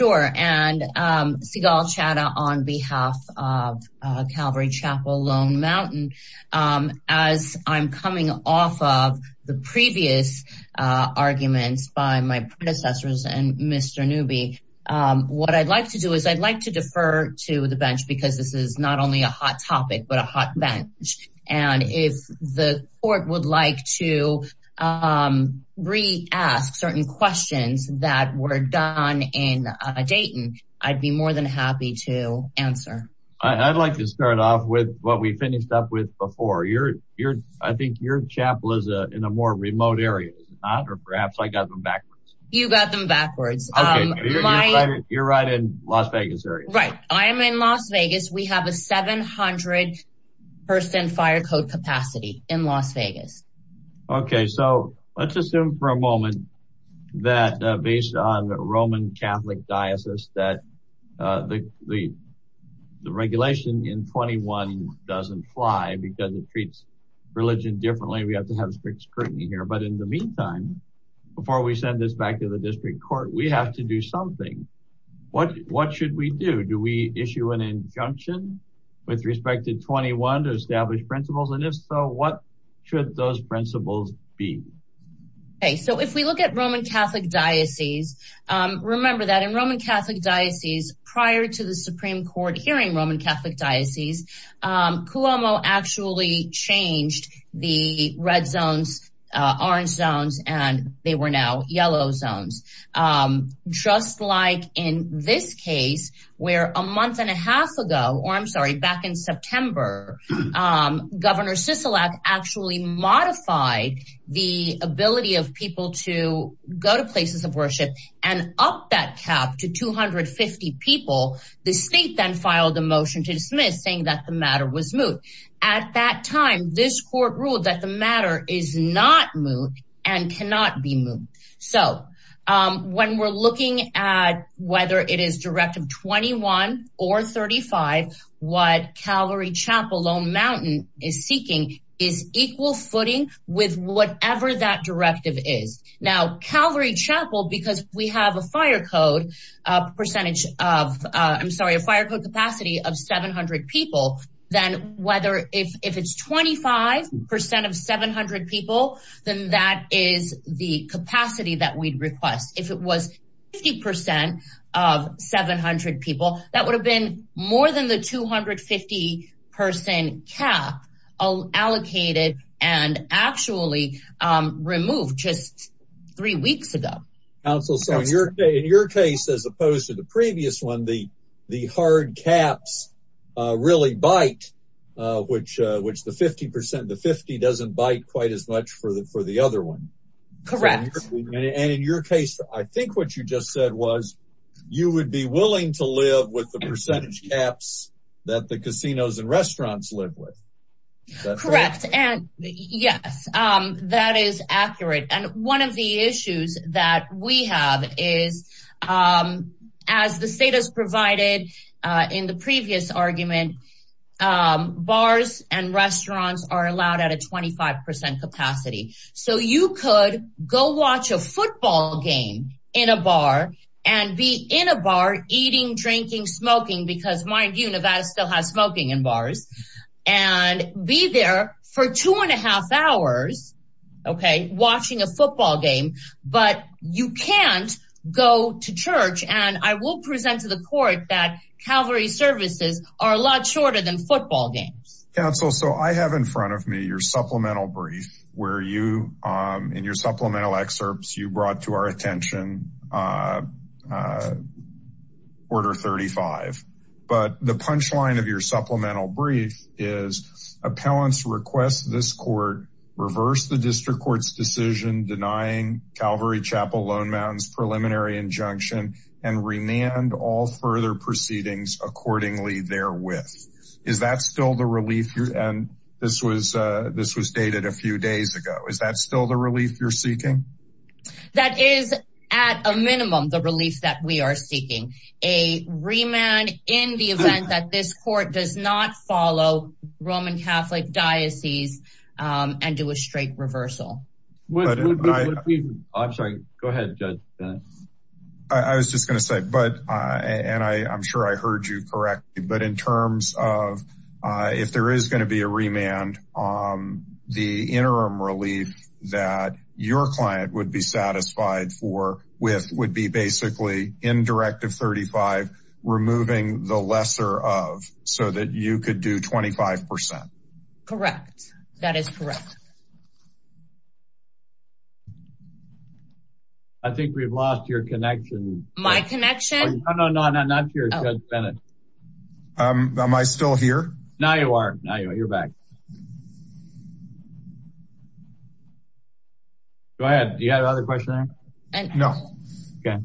and Seagal Chadha on behalf of Calvary Chapel Lone Mountain. As I'm coming off of the previous arguments by my predecessors and Mr. Newby, what I'd like to do is I'd like to defer to the bench because this is not only a hot topic but a hot bench and if the court would like to re-ask certain questions that were done in Dayton, I'd be more than happy to answer. I'd like to start off with what we finished up with before. I think your chapel is in a more remote area, is it not? Or perhaps I got them backwards. You got them backwards. You're right in Las Vegas area. Right, I am in Las Vegas. We have a 700 person fire code capacity in Las Vegas. Okay, so let's assume for a moment that based on Roman Catholic Diocese that the regulation in 21 doesn't fly because it treats religion differently. We have to have strict scrutiny here, but in the meantime, before we send this back to the district court, we have to do something. What should we do? Do we issue an injunction with respect to 21 to establish principles and if so, what should those principles be? Okay, so if we look at Roman Catholic Diocese, remember that in Roman Catholic Diocese prior to the Supreme Court hearing Roman Catholic Diocese, Cuomo actually changed the red zones, orange zones, and they were now yellow zones. Just like in this case where a month and a half ago, or I'm sorry, back in September, Governor actually modified the ability of people to go to places of worship and up that cap to 250 people. The state then filed a motion to dismiss saying that the matter was moot. At that time, this court ruled that the matter is not moot and cannot be moot. So when we're looking at whether it is Directive 21 or 35, what Calvary Chapel, Lone Mountain is seeking is equal footing with whatever that directive is. Now, Calvary Chapel, because we have a fire code percentage of, I'm sorry, a fire code capacity of 700 people, then whether if it's 25% of 700 people, then that is the capacity that we'd request. If it was 50% of 700 people, that would have been more than the 250 person cap allocated and actually removed just three weeks ago. Counsel, so in your case, as opposed to the previous one, the hard caps really bite, which the 50% of the 50 doesn't bite quite as much for the other one. Correct. And in your case, I think what you just said was, you would be willing to live with the percentage caps that the casinos and restaurants live with. Correct. And yes, that is accurate. And one of the issues that we have is, as the state has provided in the previous argument, bars and restaurants are allowed to watch a football game in a bar and be in a bar eating, drinking, smoking, because mind you, Nevada still has smoking in bars, and be there for two and a half hours, okay, watching a football game. But you can't go to church and I will present to the court that Calvary services are a lot shorter than football games. Counsel, so I have in front of me your supplemental brief where you, in your supplemental excerpts, you brought to our attention Order 35. But the punchline of your supplemental brief is, appellants request this court reverse the district court's decision denying Calvary Chapel Lone Mountains preliminary injunction and remand all further proceedings accordingly therewith. Is that still the relief? And this was dated a few days ago. Is that still the relief you're seeking? That is, at a minimum, the relief that we are seeking. A remand in the event that this court does not follow Roman Catholic diocese and do a straight reversal. I'm sorry, go ahead, Judge Bennett. I was just gonna say, and I'm sure I heard you correctly, but in terms of if there is going to be a remand, the interim relief that your client would be satisfied for with would be basically, in Directive 35, removing the lesser of, so that you could do 25%. Correct. That is correct. I think we've lost your connection. My connection? No, no, no, not to you, Judge Bennett. Am I still here? Now you are. Now you're back. Go ahead. Do you have another question? No. Okay.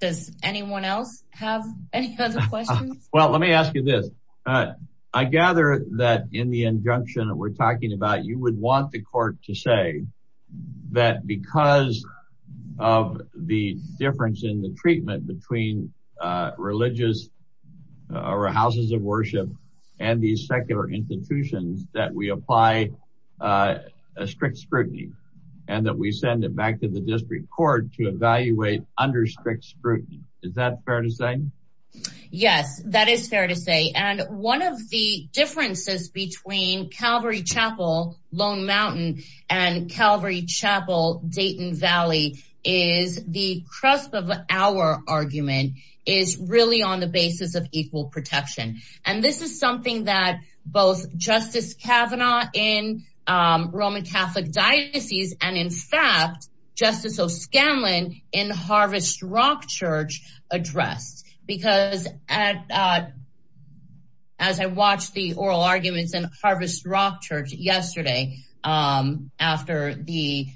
Does anyone else have any other questions? Well, let me ask you this. I gather that in the injunction that we're talking about, you would want the court to say that because of the difference in the worship and these secular institutions, that we apply a strict scrutiny and that we send it back to the district court to evaluate under strict scrutiny. Is that fair to say? Yes, that is fair to say. And one of the differences between Calvary Chapel, Lone Mountain, and Calvary Chapel, Dayton Valley, is the cusp of our argument is really on the basis of equal protection. And this is something that both Justice Kavanaugh in Roman Catholic Diocese and in fact, Justice O'Scanlan in Harvest Rock Church addressed. Because as I watched the oral arguments in Harvest Rock Church yesterday after the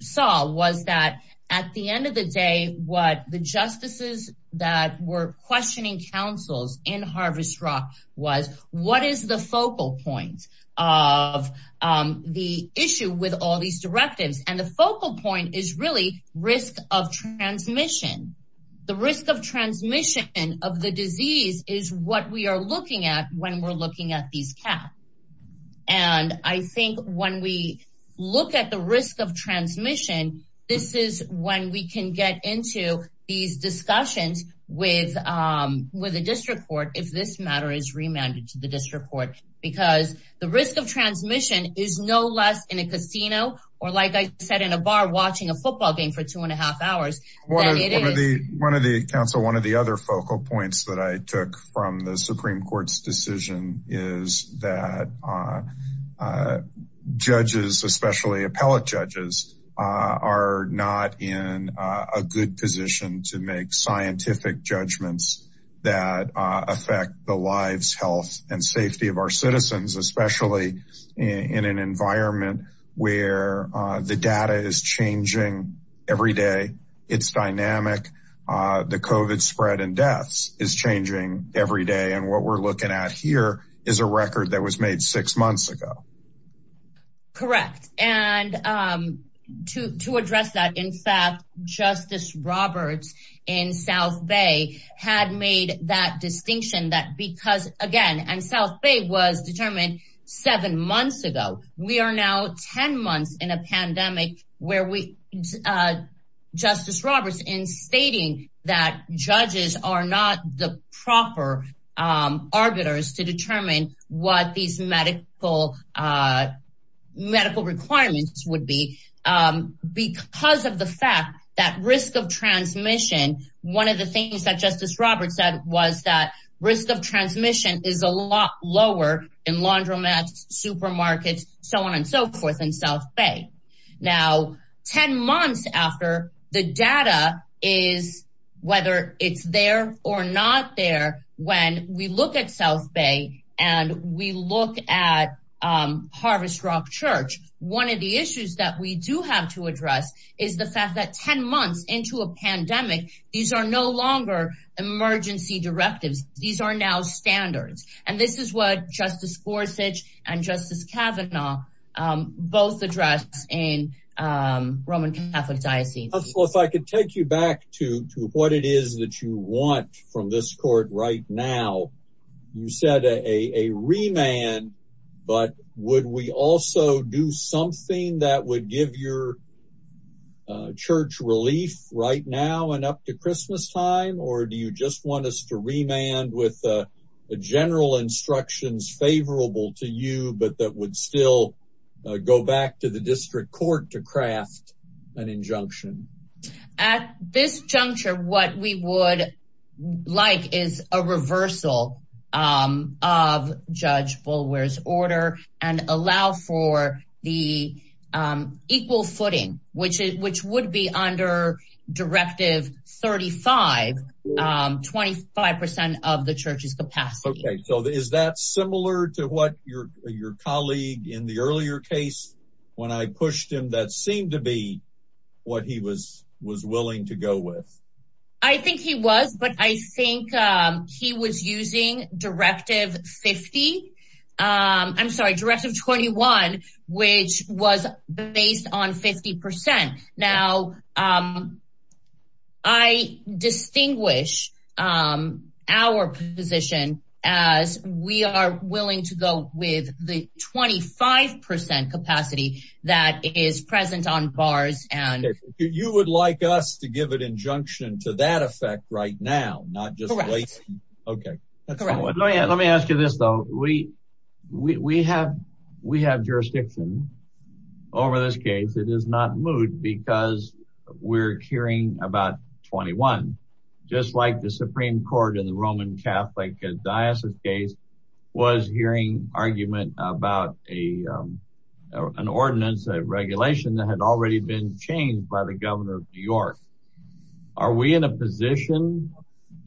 trial, was that at the end of the day, what the justices that were questioning counsels in Harvest Rock was, what is the focal point of the issue with all these directives? And the focal point is really risk of transmission. The risk of transmission of the disease is what we are looking at when we're looking at these caps. And I think when we look at the risk of transmission, this is when we can get into these discussions with the district court, if this matter is remanded to the district court, because the risk of transmission is no less in a casino or like I said, in a bar watching a football game for two and a half hours. One of the counsel, one of the other focal points that I took from the Supreme Court's decision is that judges, especially appellate judges, are not in a good position to make scientific judgments that affect the lives, health and safety of our citizens, especially in an environment where the data is changing every day. It's dynamic. The COVID spread and deaths is changing every day. And what we're looking at here is a record that was made six months ago. Correct. And to address that, in fact, Justice Roberts in South Bay had made that distinction that because again, and South Bay was determined seven months ago, we are now 10 months in a pandemic where Justice Roberts in stating that judges are not the proper arbiters to determine what these medical requirements would be because of the fact that risk of transmission, one of the things that Justice Roberts said was that risk of transmission is a lot lower in laundromats, supermarkets, so on and so forth in South Bay. Now, 10 months after the data is, whether it's there or not there, when we look at South Bay and we look at Harvest Rock Church, one of the issues that we do have to address is the fact that 10 months into a pandemic, these are no longer emergency directives. These are now standards. And this is what Justice Gorsuch and Justice Kavanaugh both address in Roman Catholic Diocese. Well, if I could take you back to what it is that you want from this court right now, you said a remand. But would we also do something that would give your church relief right now and up to with the general instructions favorable to you, but that would still go back to the district court to craft an injunction? At this juncture, what we would like is a reversal of Judge Bulwer's order and allow for the equal footing, which would be under Directive 35, 25 percent of the church's capacity. OK, so is that similar to what your colleague in the earlier case, when I pushed him, that seemed to be what he was willing to go with? I think he was, but I think he was using Directive 50. I'm sorry, Directive 21, which was based on 50 percent. Now, I distinguish our position as we are willing to go with the 25 percent capacity that is present on bars. And you would like us to give an injunction to that effect right now, not just wait. OK, let me ask you this, though. We have jurisdiction over this case. It is not moot because we're hearing about 21, just like the Supreme Court in the Roman Catholic Diocese case was hearing argument about an ordinance, a regulation that had already been changed by the governor of New York. Are we in a position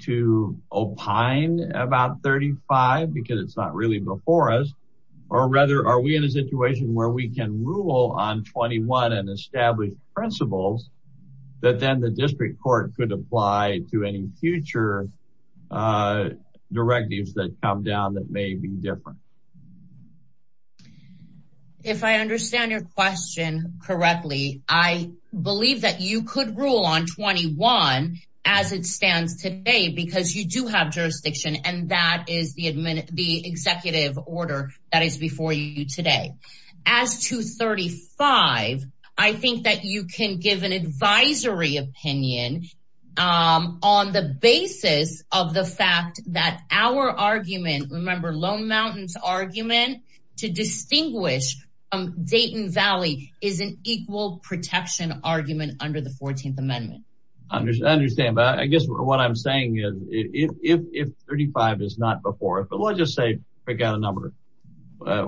to opine about 35 because it's not really before us? Or rather, are we in a situation where we can rule on 21 and establish principles that then the district court could apply to any future directives that come down that may be different? If I understand your question correctly, I believe that you could rule on 21 as it stands today because you do have jurisdiction and that is the executive order that is before you today. As to 35, I think that you can give an advisory opinion on the basis of the fact that our argument, remember Lone Mountain's argument to distinguish Dayton Valley is an equal protection argument under the 14th Amendment. I understand. But I guess what I'm saying is if 35 is not before us, but let's just say, pick out a number.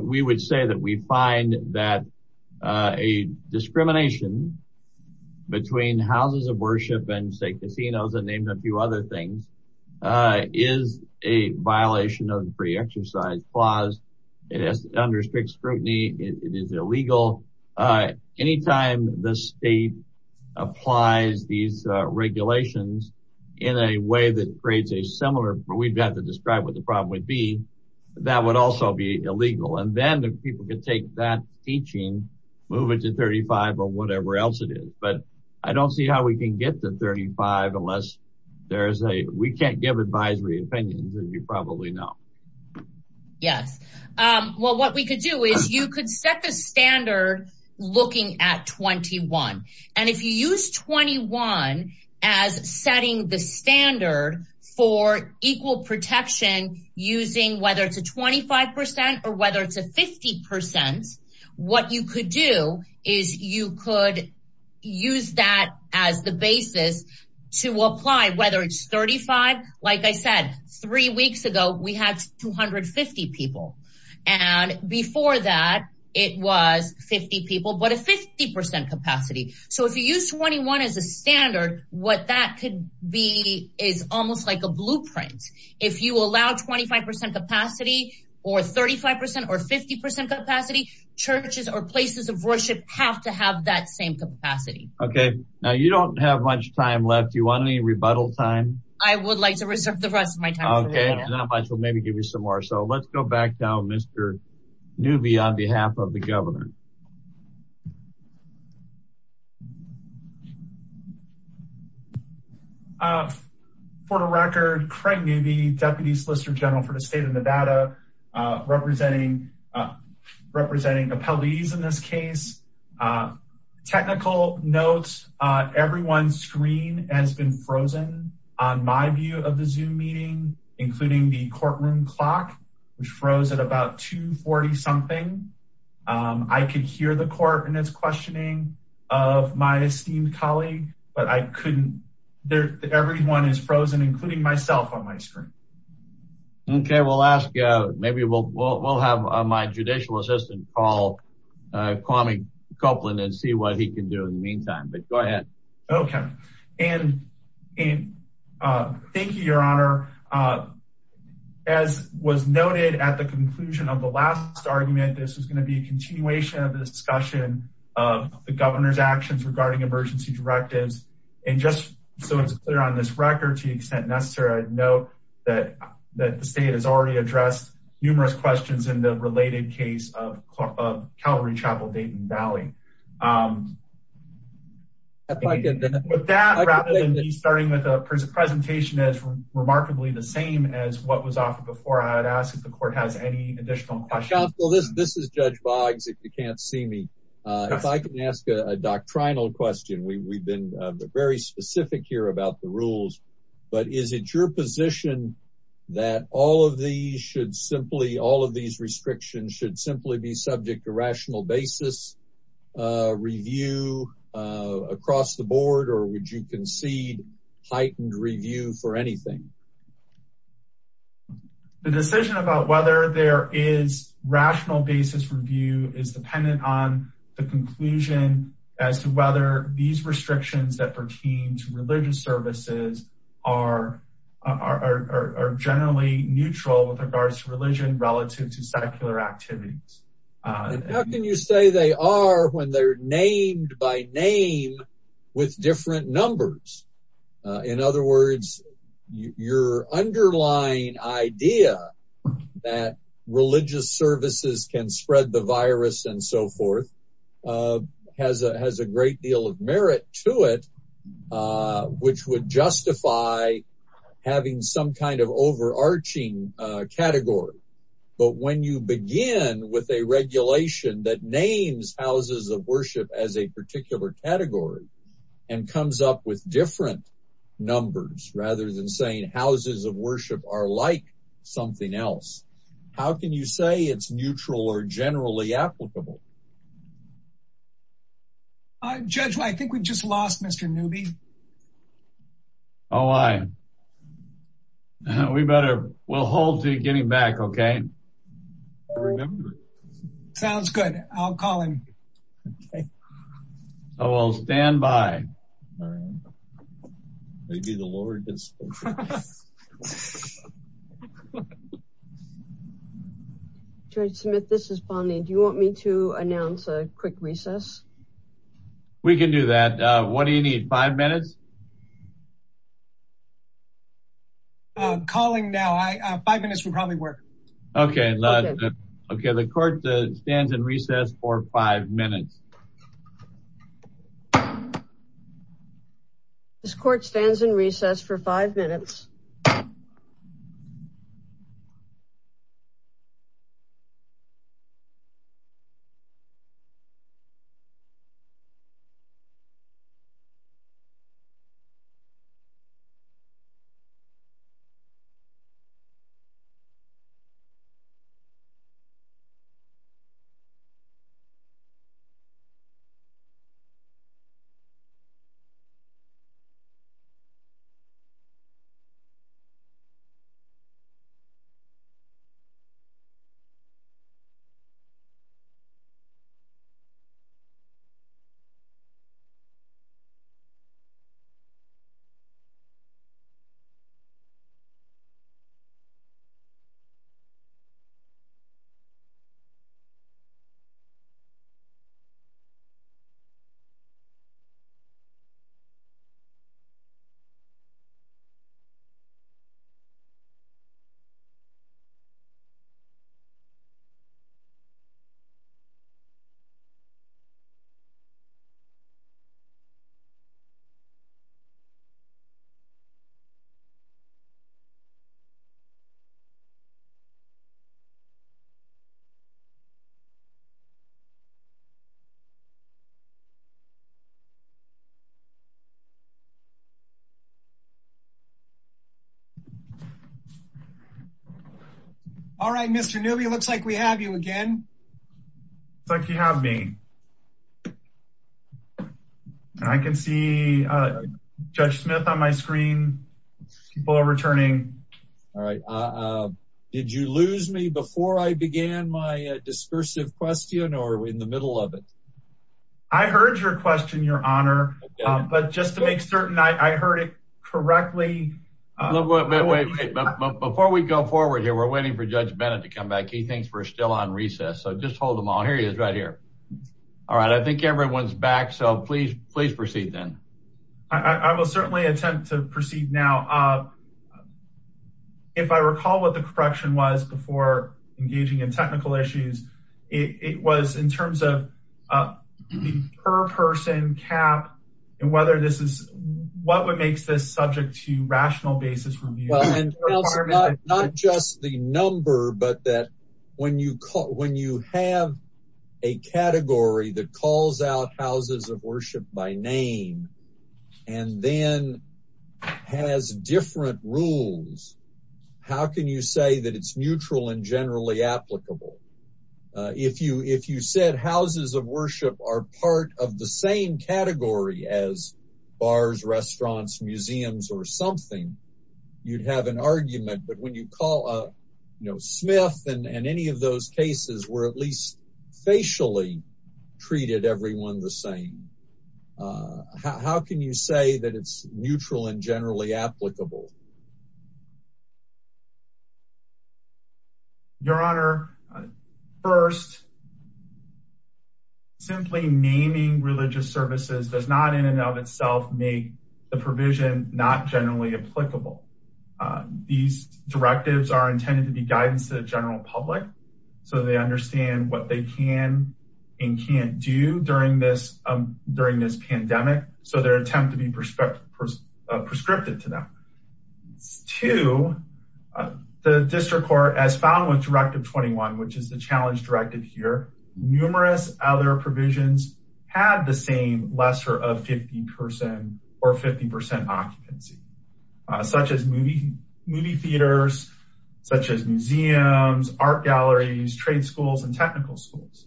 We would say that we find that a discrimination between houses of worship and casinos and a few other things is a violation of the free exercise clause. It is under strict scrutiny. It is illegal. Anytime the state applies these regulations in a way that creates a similar, we've got to describe what the problem would be. That would also be illegal. And then the people could take that teaching, move it to 35 or whatever else it is. But I don't see how we can get to 35 unless there is a, we can't give advisory opinions as you probably know. Yes. Well, what we could do is you could set the standard looking at 21 and if you use 21 as setting the standard for equal protection using whether it's a 25 percent or whether it's a 50 percent, what you could do is you could use that as the basis to apply, whether it's 35. Like I said, three weeks ago, we had 250 people. And before that, it was 50 people, but a 50 percent capacity. So if you use 21 as a standard, what that could be is almost like a blueprint. If you allow 25 percent capacity or 35 percent or 50 percent capacity, churches or places of worship have to have that same capacity. Okay. Now you don't have much time left. Do you want any rebuttal time? I would like to reserve the rest of my time. Okay. Not much. We'll maybe give you some more. So let's go back down, Mr. Newby, on behalf of the governor. Thank you. For the record, Craig Newby, Deputy Solicitor General for the state of Nevada, representing, representing appellees in this case. Technical notes, everyone's screen has been frozen on my view of the Zoom meeting, including the courtroom clock, which froze at about 240 something. I could hear the court and its questioning of my esteemed colleague, but I couldn't. There, everyone is frozen, including myself on my screen. Okay. We'll ask, maybe we'll, we'll have my judicial assistant call Kwame Copeland and see what he can do in the meantime, but go ahead. Okay. And thank you, Your Honor. As was noted at the conclusion of the last argument, this was going to be a continuation of the discussion of the governor's actions regarding emergency directives. And just so it's clear on this record, to the extent necessary, I'd note that the state has already addressed numerous questions in the related case of Calvary Chapel, Dayton Valley. With that, rather than me starting with a presentation as remarkably the same as what was offered before, I would ask if the court has any additional questions. Counsel, this is Judge Boggs, if you can't see me. If I can ask a doctrinal question, we've been very specific here about the rules, but is it your position that all of these should simply, all of these restrictions should simply be subject to rational basis? Review across the board, or would you concede heightened review for anything? The decision about whether there is rational basis review is dependent on the conclusion as to whether these restrictions that pertain to religious services are generally neutral with regards to religion relative to secular activities. How can you say they are when they're named by name with different numbers? In other words, your underlying idea that religious services can spread the virus and so forth has a great deal of merit to it, which would justify having some kind of overarching category. But when you begin with a regulation that names houses of worship as a particular category and comes up with different numbers, rather than saying houses of worship are like something else, how can you say it's neutral or generally applicable? Judge, I think we've just lost Mr. Newby. Oh, I know we better. We'll hold to getting back. Okay. Sounds good. I'll call him. Oh, well, stand by. Maybe the Lord. Judge Smith. This is Bonnie. Do you want me to announce a quick recess? We can do that. What do you need? Five minutes? Calling now. Five minutes would probably work. Okay. Okay. The court stands in recess for five minutes. This court stands in recess for five minutes. This court stands in recess for five minutes. This court stands in recess for five minutes. All right, Mr. Newby. Looks like we have you again. Thank you. Have me. I can see Judge Smith on my screen. People are returning. All right. Did you lose me before I began my discursive question or in the middle of it? I heard your question, Your Honor, but just to make certain I heard it correctly. Before we go forward here, we're waiting for Judge Bennett to come back. He thinks we're still on recess. So just hold them all. Here he is right here. All right. I think everyone's back. So please, please proceed then. I will certainly attempt to proceed now. If I recall what the correction was before engaging in technical issues, it was in terms of the per person cap and whether this is what would makes this subject to rational basis review. And not just the number, but that when you call, when you have a category that calls out houses of worship by name and then has different rules, how can you say that it's neutral and generally applicable? If you, if you said houses of worship are part of the same category as bars, restaurants, museums, or something, you'd have an argument. But when you call, you know, Smith and any of those cases were at least facially treated everyone the same. How can you say that it's neutral and generally applicable? Your Honor, first, simply naming religious services does not in and of itself make the provision not generally applicable. These directives are intended to be guidance to the general public. So they understand what they can and can't do during this, during this pandemic. So their attempt to be prescriptive, prescriptive to them. To the district court as found with directive 21, which is the challenge directive here. Numerous other provisions had the same lesser of 50% or 50% occupancy such as movie, movie theaters, such as museums, art galleries, trade schools, and technical schools.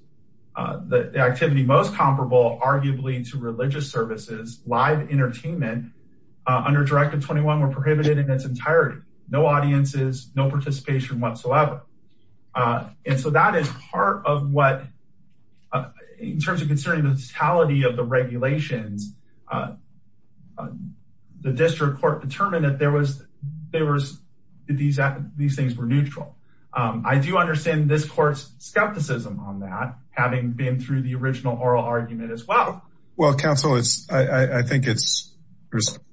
The activity most comparable arguably to religious services, live entertainment under directive 21 were prohibited in its entirety. No audiences, no participation whatsoever. And so that is part of what in terms of considering the totality of the regulations, the district court determined that there was, there was these, these things were neutral. I do understand this court's skepticism on that having been through the original oral argument as well. Well, counsel, it's, I think it's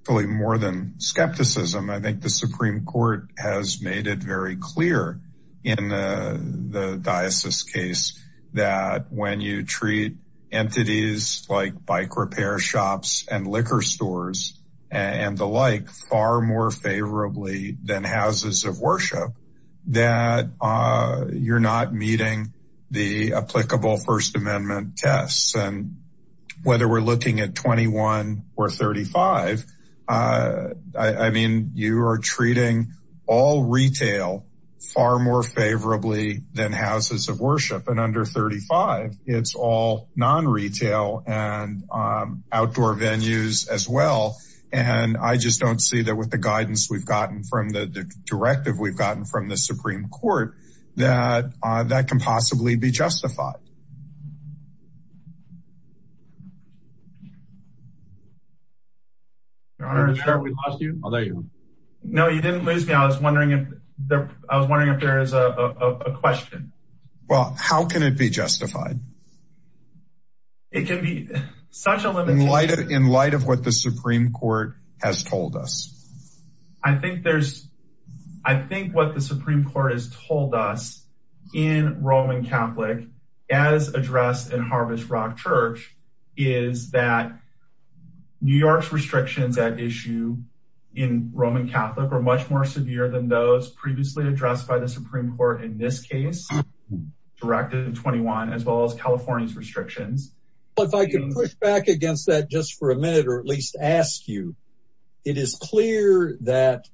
really more than skepticism. I think the Supreme Court has made it very clear in the diocese case that when you treat entities like bike repair shops and liquor stores and the like far more favorably than houses of worship, that you're not meeting the applicable first amendment tests. Whether we're looking at 21 or 35, I mean, you are treating all retail far more favorably than houses of worship and under 35 it's all non-retail and outdoor venues as well. And I just don't see that with the guidance we've gotten from the directive we've gotten from the Supreme Court that that can possibly be justified. No, you didn't lose me. I was wondering if there, I was wondering if there is a question. Well, how can it be justified? It can be such a limit. In light of what the Supreme Court has told us. I think there's, I think what the Supreme Court has told us in Roman Catholic as addressed in Harvest Rock Church is that New York's restrictions at issue in Roman Catholic are much more severe than those previously addressed by the Supreme Court in this case directed to 21 as well as California's restrictions. If I can push back against that just for a minute, or at least ask you, it is clear that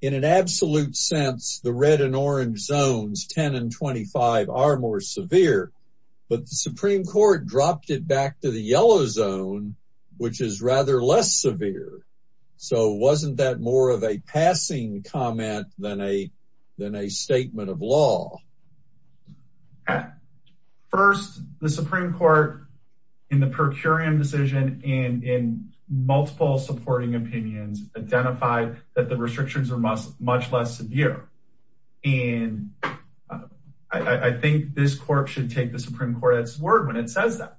in an absolute sense, the red and orange zones, 10 and 25 are more severe, but the Supreme Court dropped it back to the yellow zone, which is rather less severe. So wasn't that more of a passing comment than a, than a statement of law? First, the Supreme Court in the per curiam decision and in multiple supporting opinions identified that the restrictions are much, much less severe. And I think this court should take the Supreme Court at its word when it says that.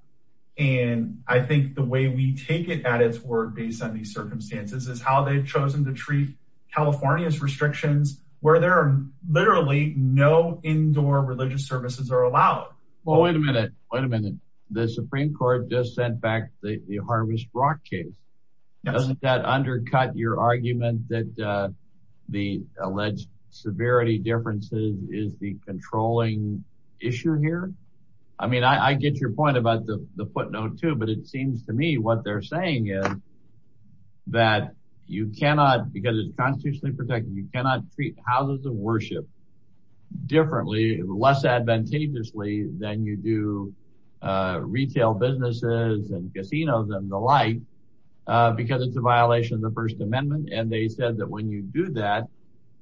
And I think the way we take it at its word based on these circumstances is how they've chosen to treat California's restrictions where there are literally no indoor religious services are allowed. Well, wait a minute, wait a minute. The Supreme Court just sent back the Harvest Rock case. Doesn't that undercut your argument that the alleged severity differences is the controlling issue here? I mean, I get your point about the footnote too, but it seems to me what they're saying is that you cannot, because it's constitutionally protected, you cannot treat houses of worship differently, less advantageously than you do retail businesses and casinos and the like, because it's a violation of the first amendment. And they said that when you do that,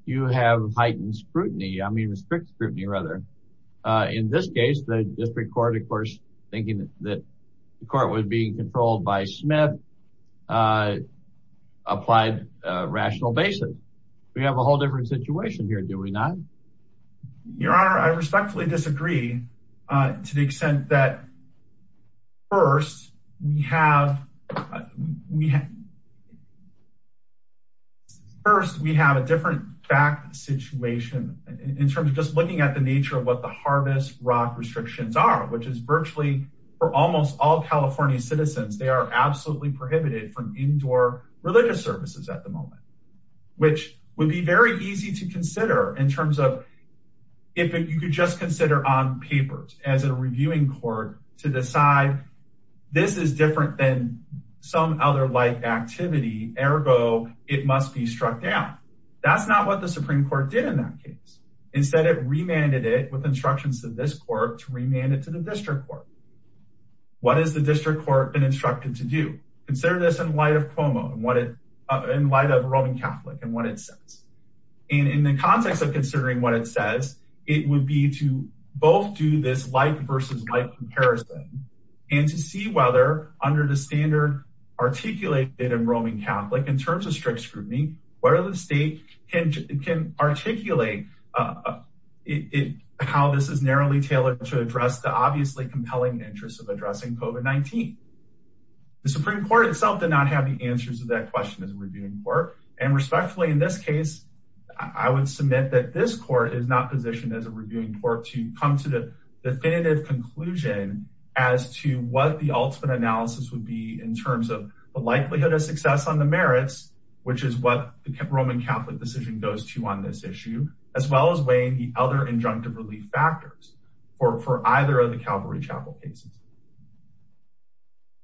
you have heightened scrutiny. I mean, restrict scrutiny rather in this case, the district court, of course, thinking that the court would be controlled by Smith applied rational basis. We have a whole different situation here. Do we not? Your honor, I respectfully disagree to the extent that first we have, we first, we have a different fact situation in terms of just looking at the nature of what the Harvest Rock restrictions are, which is virtually for almost all California citizens. They are absolutely prohibited from indoor religious services at the moment, which would be very easy to consider in terms of if you could just consider on papers as a reviewing court to decide this is different than some other life activity, ergo, it must be struck down. That's not what the Supreme court did in that case. Instead, it remanded it with instructions to this court to remand it to the district court. What is the district court been instructed to do? Consider this in light of Cuomo and what it in light of Roman Catholic and what it says. And in the context of considering what it says, it would be to both do this light versus light comparison and to see whether under the standard articulated in Roman Catholic in terms of strict scrutiny, whether the state can, can articulate it, how this is narrowly tailored to address the obviously compelling interest of addressing COVID-19. The Supreme court itself did not have the answers to that question as a reviewing court. And respectfully, in this case, I would submit that this court is not positioned as a reviewing court to come to the definitive conclusion as to what the ultimate analysis would be in terms of the likelihood of success on the merits, which is what the Roman Catholic decision goes to on this issue, as well as weighing the other injunctive relief factors for, for either of the Calvary Chapel cases.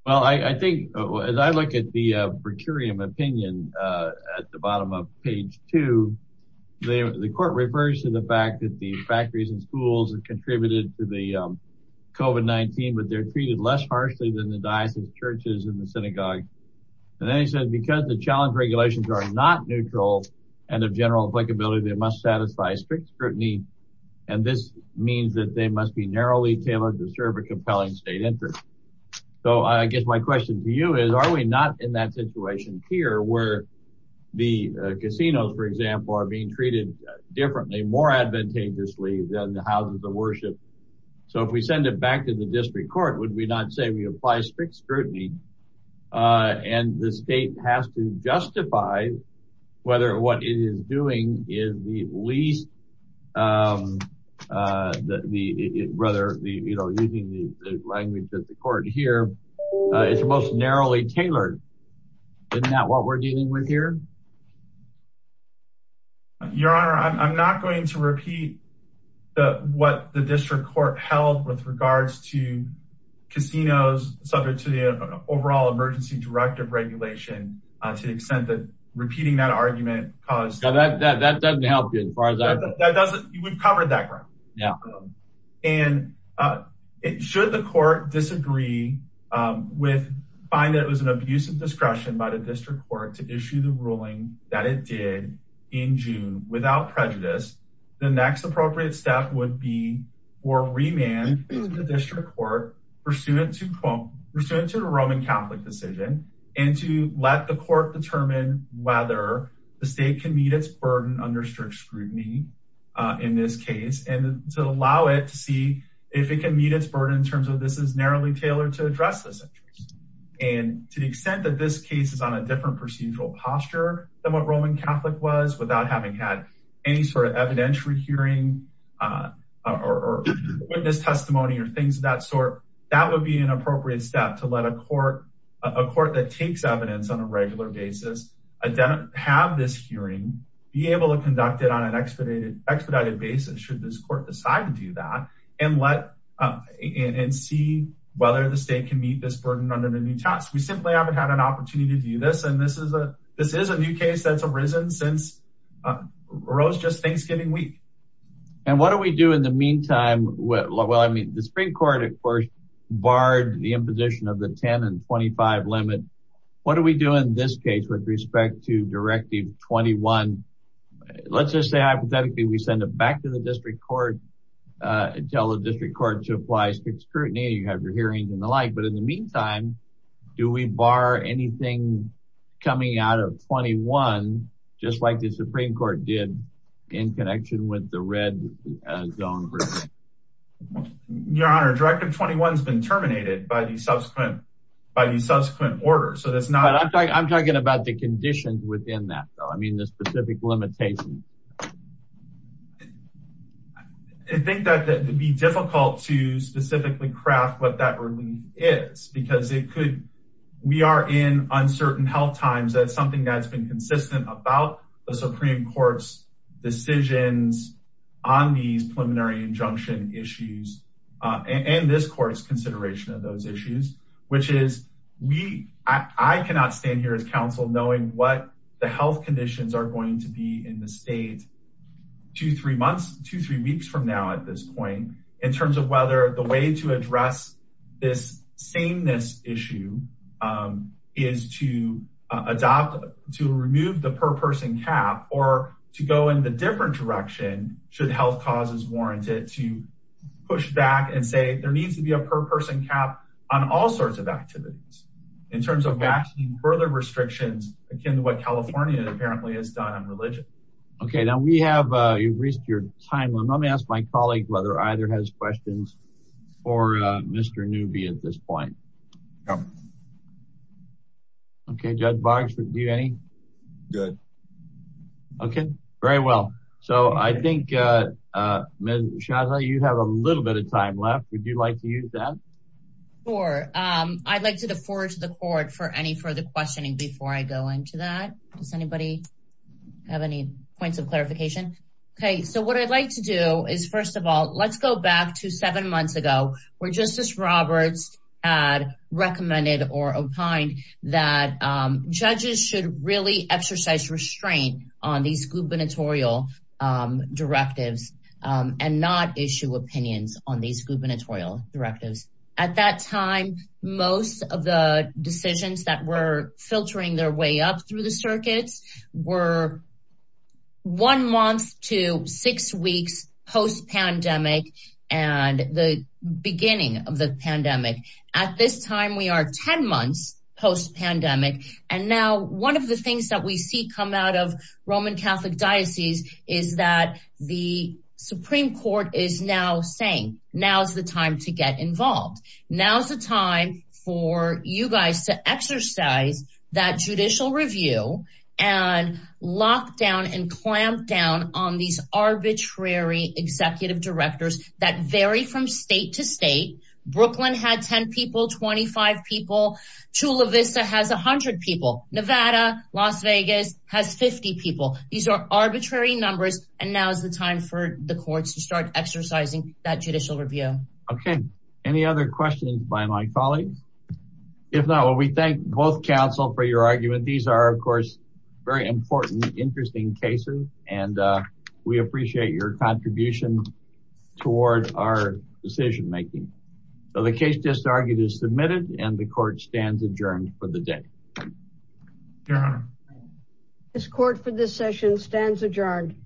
Well, I think as I look at the per curiam opinion at the bottom of page two, the court refers to the fact that the factories and schools contributed to the COVID-19, but they're treated less harshly than the diocese churches and the synagogue. And then he said, because the challenge regulations are not neutral and of general applicability, they must satisfy strict scrutiny. And this means that they must be narrowly tailored to serve a compelling state interest. So I guess my question to you is, are we not in that situation here where the casinos, for example, are being treated differently, more advantageously than the houses of worship? So if we send it back to the district court, would we not say we apply strict scrutiny? And the state has to justify whether what it is doing is the least rather, you know, using the language that the court here is the most narrowly tailored. Isn't that what we're dealing with here? Your honor, I'm not going to repeat the, what the district court held with regards to casinos subject to the overall emergency directive regulation to the extent that repeating that argument. Cause that, that, that doesn't help you. We've covered that. And should the court disagree with, find that it was an abuse of discretion by the district court to issue the ruling that it did in June without prejudice. The next appropriate step would be for remand the district court pursuant to the Roman Catholic decision and to let the court determine whether the state can meet its burden under strict scrutiny in this case, and to allow it to see if it can meet its burden in terms of this is narrowly tailored to address this. And to the extent that this case is on a different procedural posture than what Roman Catholic was without having had any sort of evidentiary hearing or witness testimony or things of that sort, that would be an appropriate step to let a court, a court that takes evidence on a regular basis. Have this hearing, be able to conduct it on an expedited expedited basis. Should this court decide to do that and let and see whether the state can meet this burden under the new task. We simply haven't had an opportunity to do this. And this is a, this is a new case that's arisen since Rose just Thanksgiving week. And what do we do in the meantime? Well, I mean, the spring court at first barred the imposition of the 10 and 25 limit. What do we do in this case with respect to directive 21? Let's just say hypothetically, we send it back to the district court and tell the district court to apply strict scrutiny. You have your hearings and the like. But in the meantime, do we bar anything coming out of 21 just like the Supreme Court did in connection with the red zone? Your honor, directive 21 has been terminated by the subsequent, by the subsequent order. So that's not, I'm talking about the conditions within that. So, I mean, the specific limitations. I think that that would be difficult to specifically craft what that relief is because it could, we are in uncertain health times. That's something that's been consistent about the Supreme Court's decisions on these preliminary injunction issues. And this court's consideration of those issues, which is we, I cannot stand here as counsel knowing what the health conditions are going to be in the state. Two, three months, two, three weeks from now, at this point, in terms of whether the way to address this sameness issue is to adopt, to remove the per person cap or to go in the different direction. Should health causes warrant it to push back and say there needs to be a per person cap on all sorts of activities in terms of vaccine, further restrictions akin to what California apparently has done on religion. Okay. Now we have, you've reached your time limit. Let me ask my colleague whether either has questions for Mr. Newby at this point. Okay. Judge Boggs, do you have any? Good. Okay. Very well. So I think Ms. Shaza, you have a little bit of time left. Would you like to use that? Sure. I'd like to defer to the court for any further questioning before I go into that. Does anybody have any points of clarification? Okay. So what I'd like to do is, first of all, let's go back to seven months ago where Justice Roberts had recommended or opined that judges should really exercise restraint on these gubernatorial directives and not issue opinions on these gubernatorial directives. At that time, most of the decisions that were filtering their way up through the circuits were one month to six weeks post pandemic and the beginning of the pandemic. At this time, we are 10 months post pandemic and now one of the things that we see come out of Roman Catholic Diocese is that the Supreme Court is now saying, now's the time to get involved. Now's the time for you guys to exercise that judicial review and lock down and clamp down on these arbitrary executive directors that vary from state to state. Brooklyn had 10 people, 25 people. Chula Vista has 100 people. Nevada, Las Vegas has 50 people. These are arbitrary numbers and now's the time for the courts to start exercising that judicial review. Okay. Any other questions by my colleagues? If not, well, we thank both counsel for your argument. These are, of course, very important, interesting cases, and we appreciate your contribution toward our decision making. So the case just argued is submitted and the court stands adjourned for the day. Your Honor. This court for this session stands adjourned.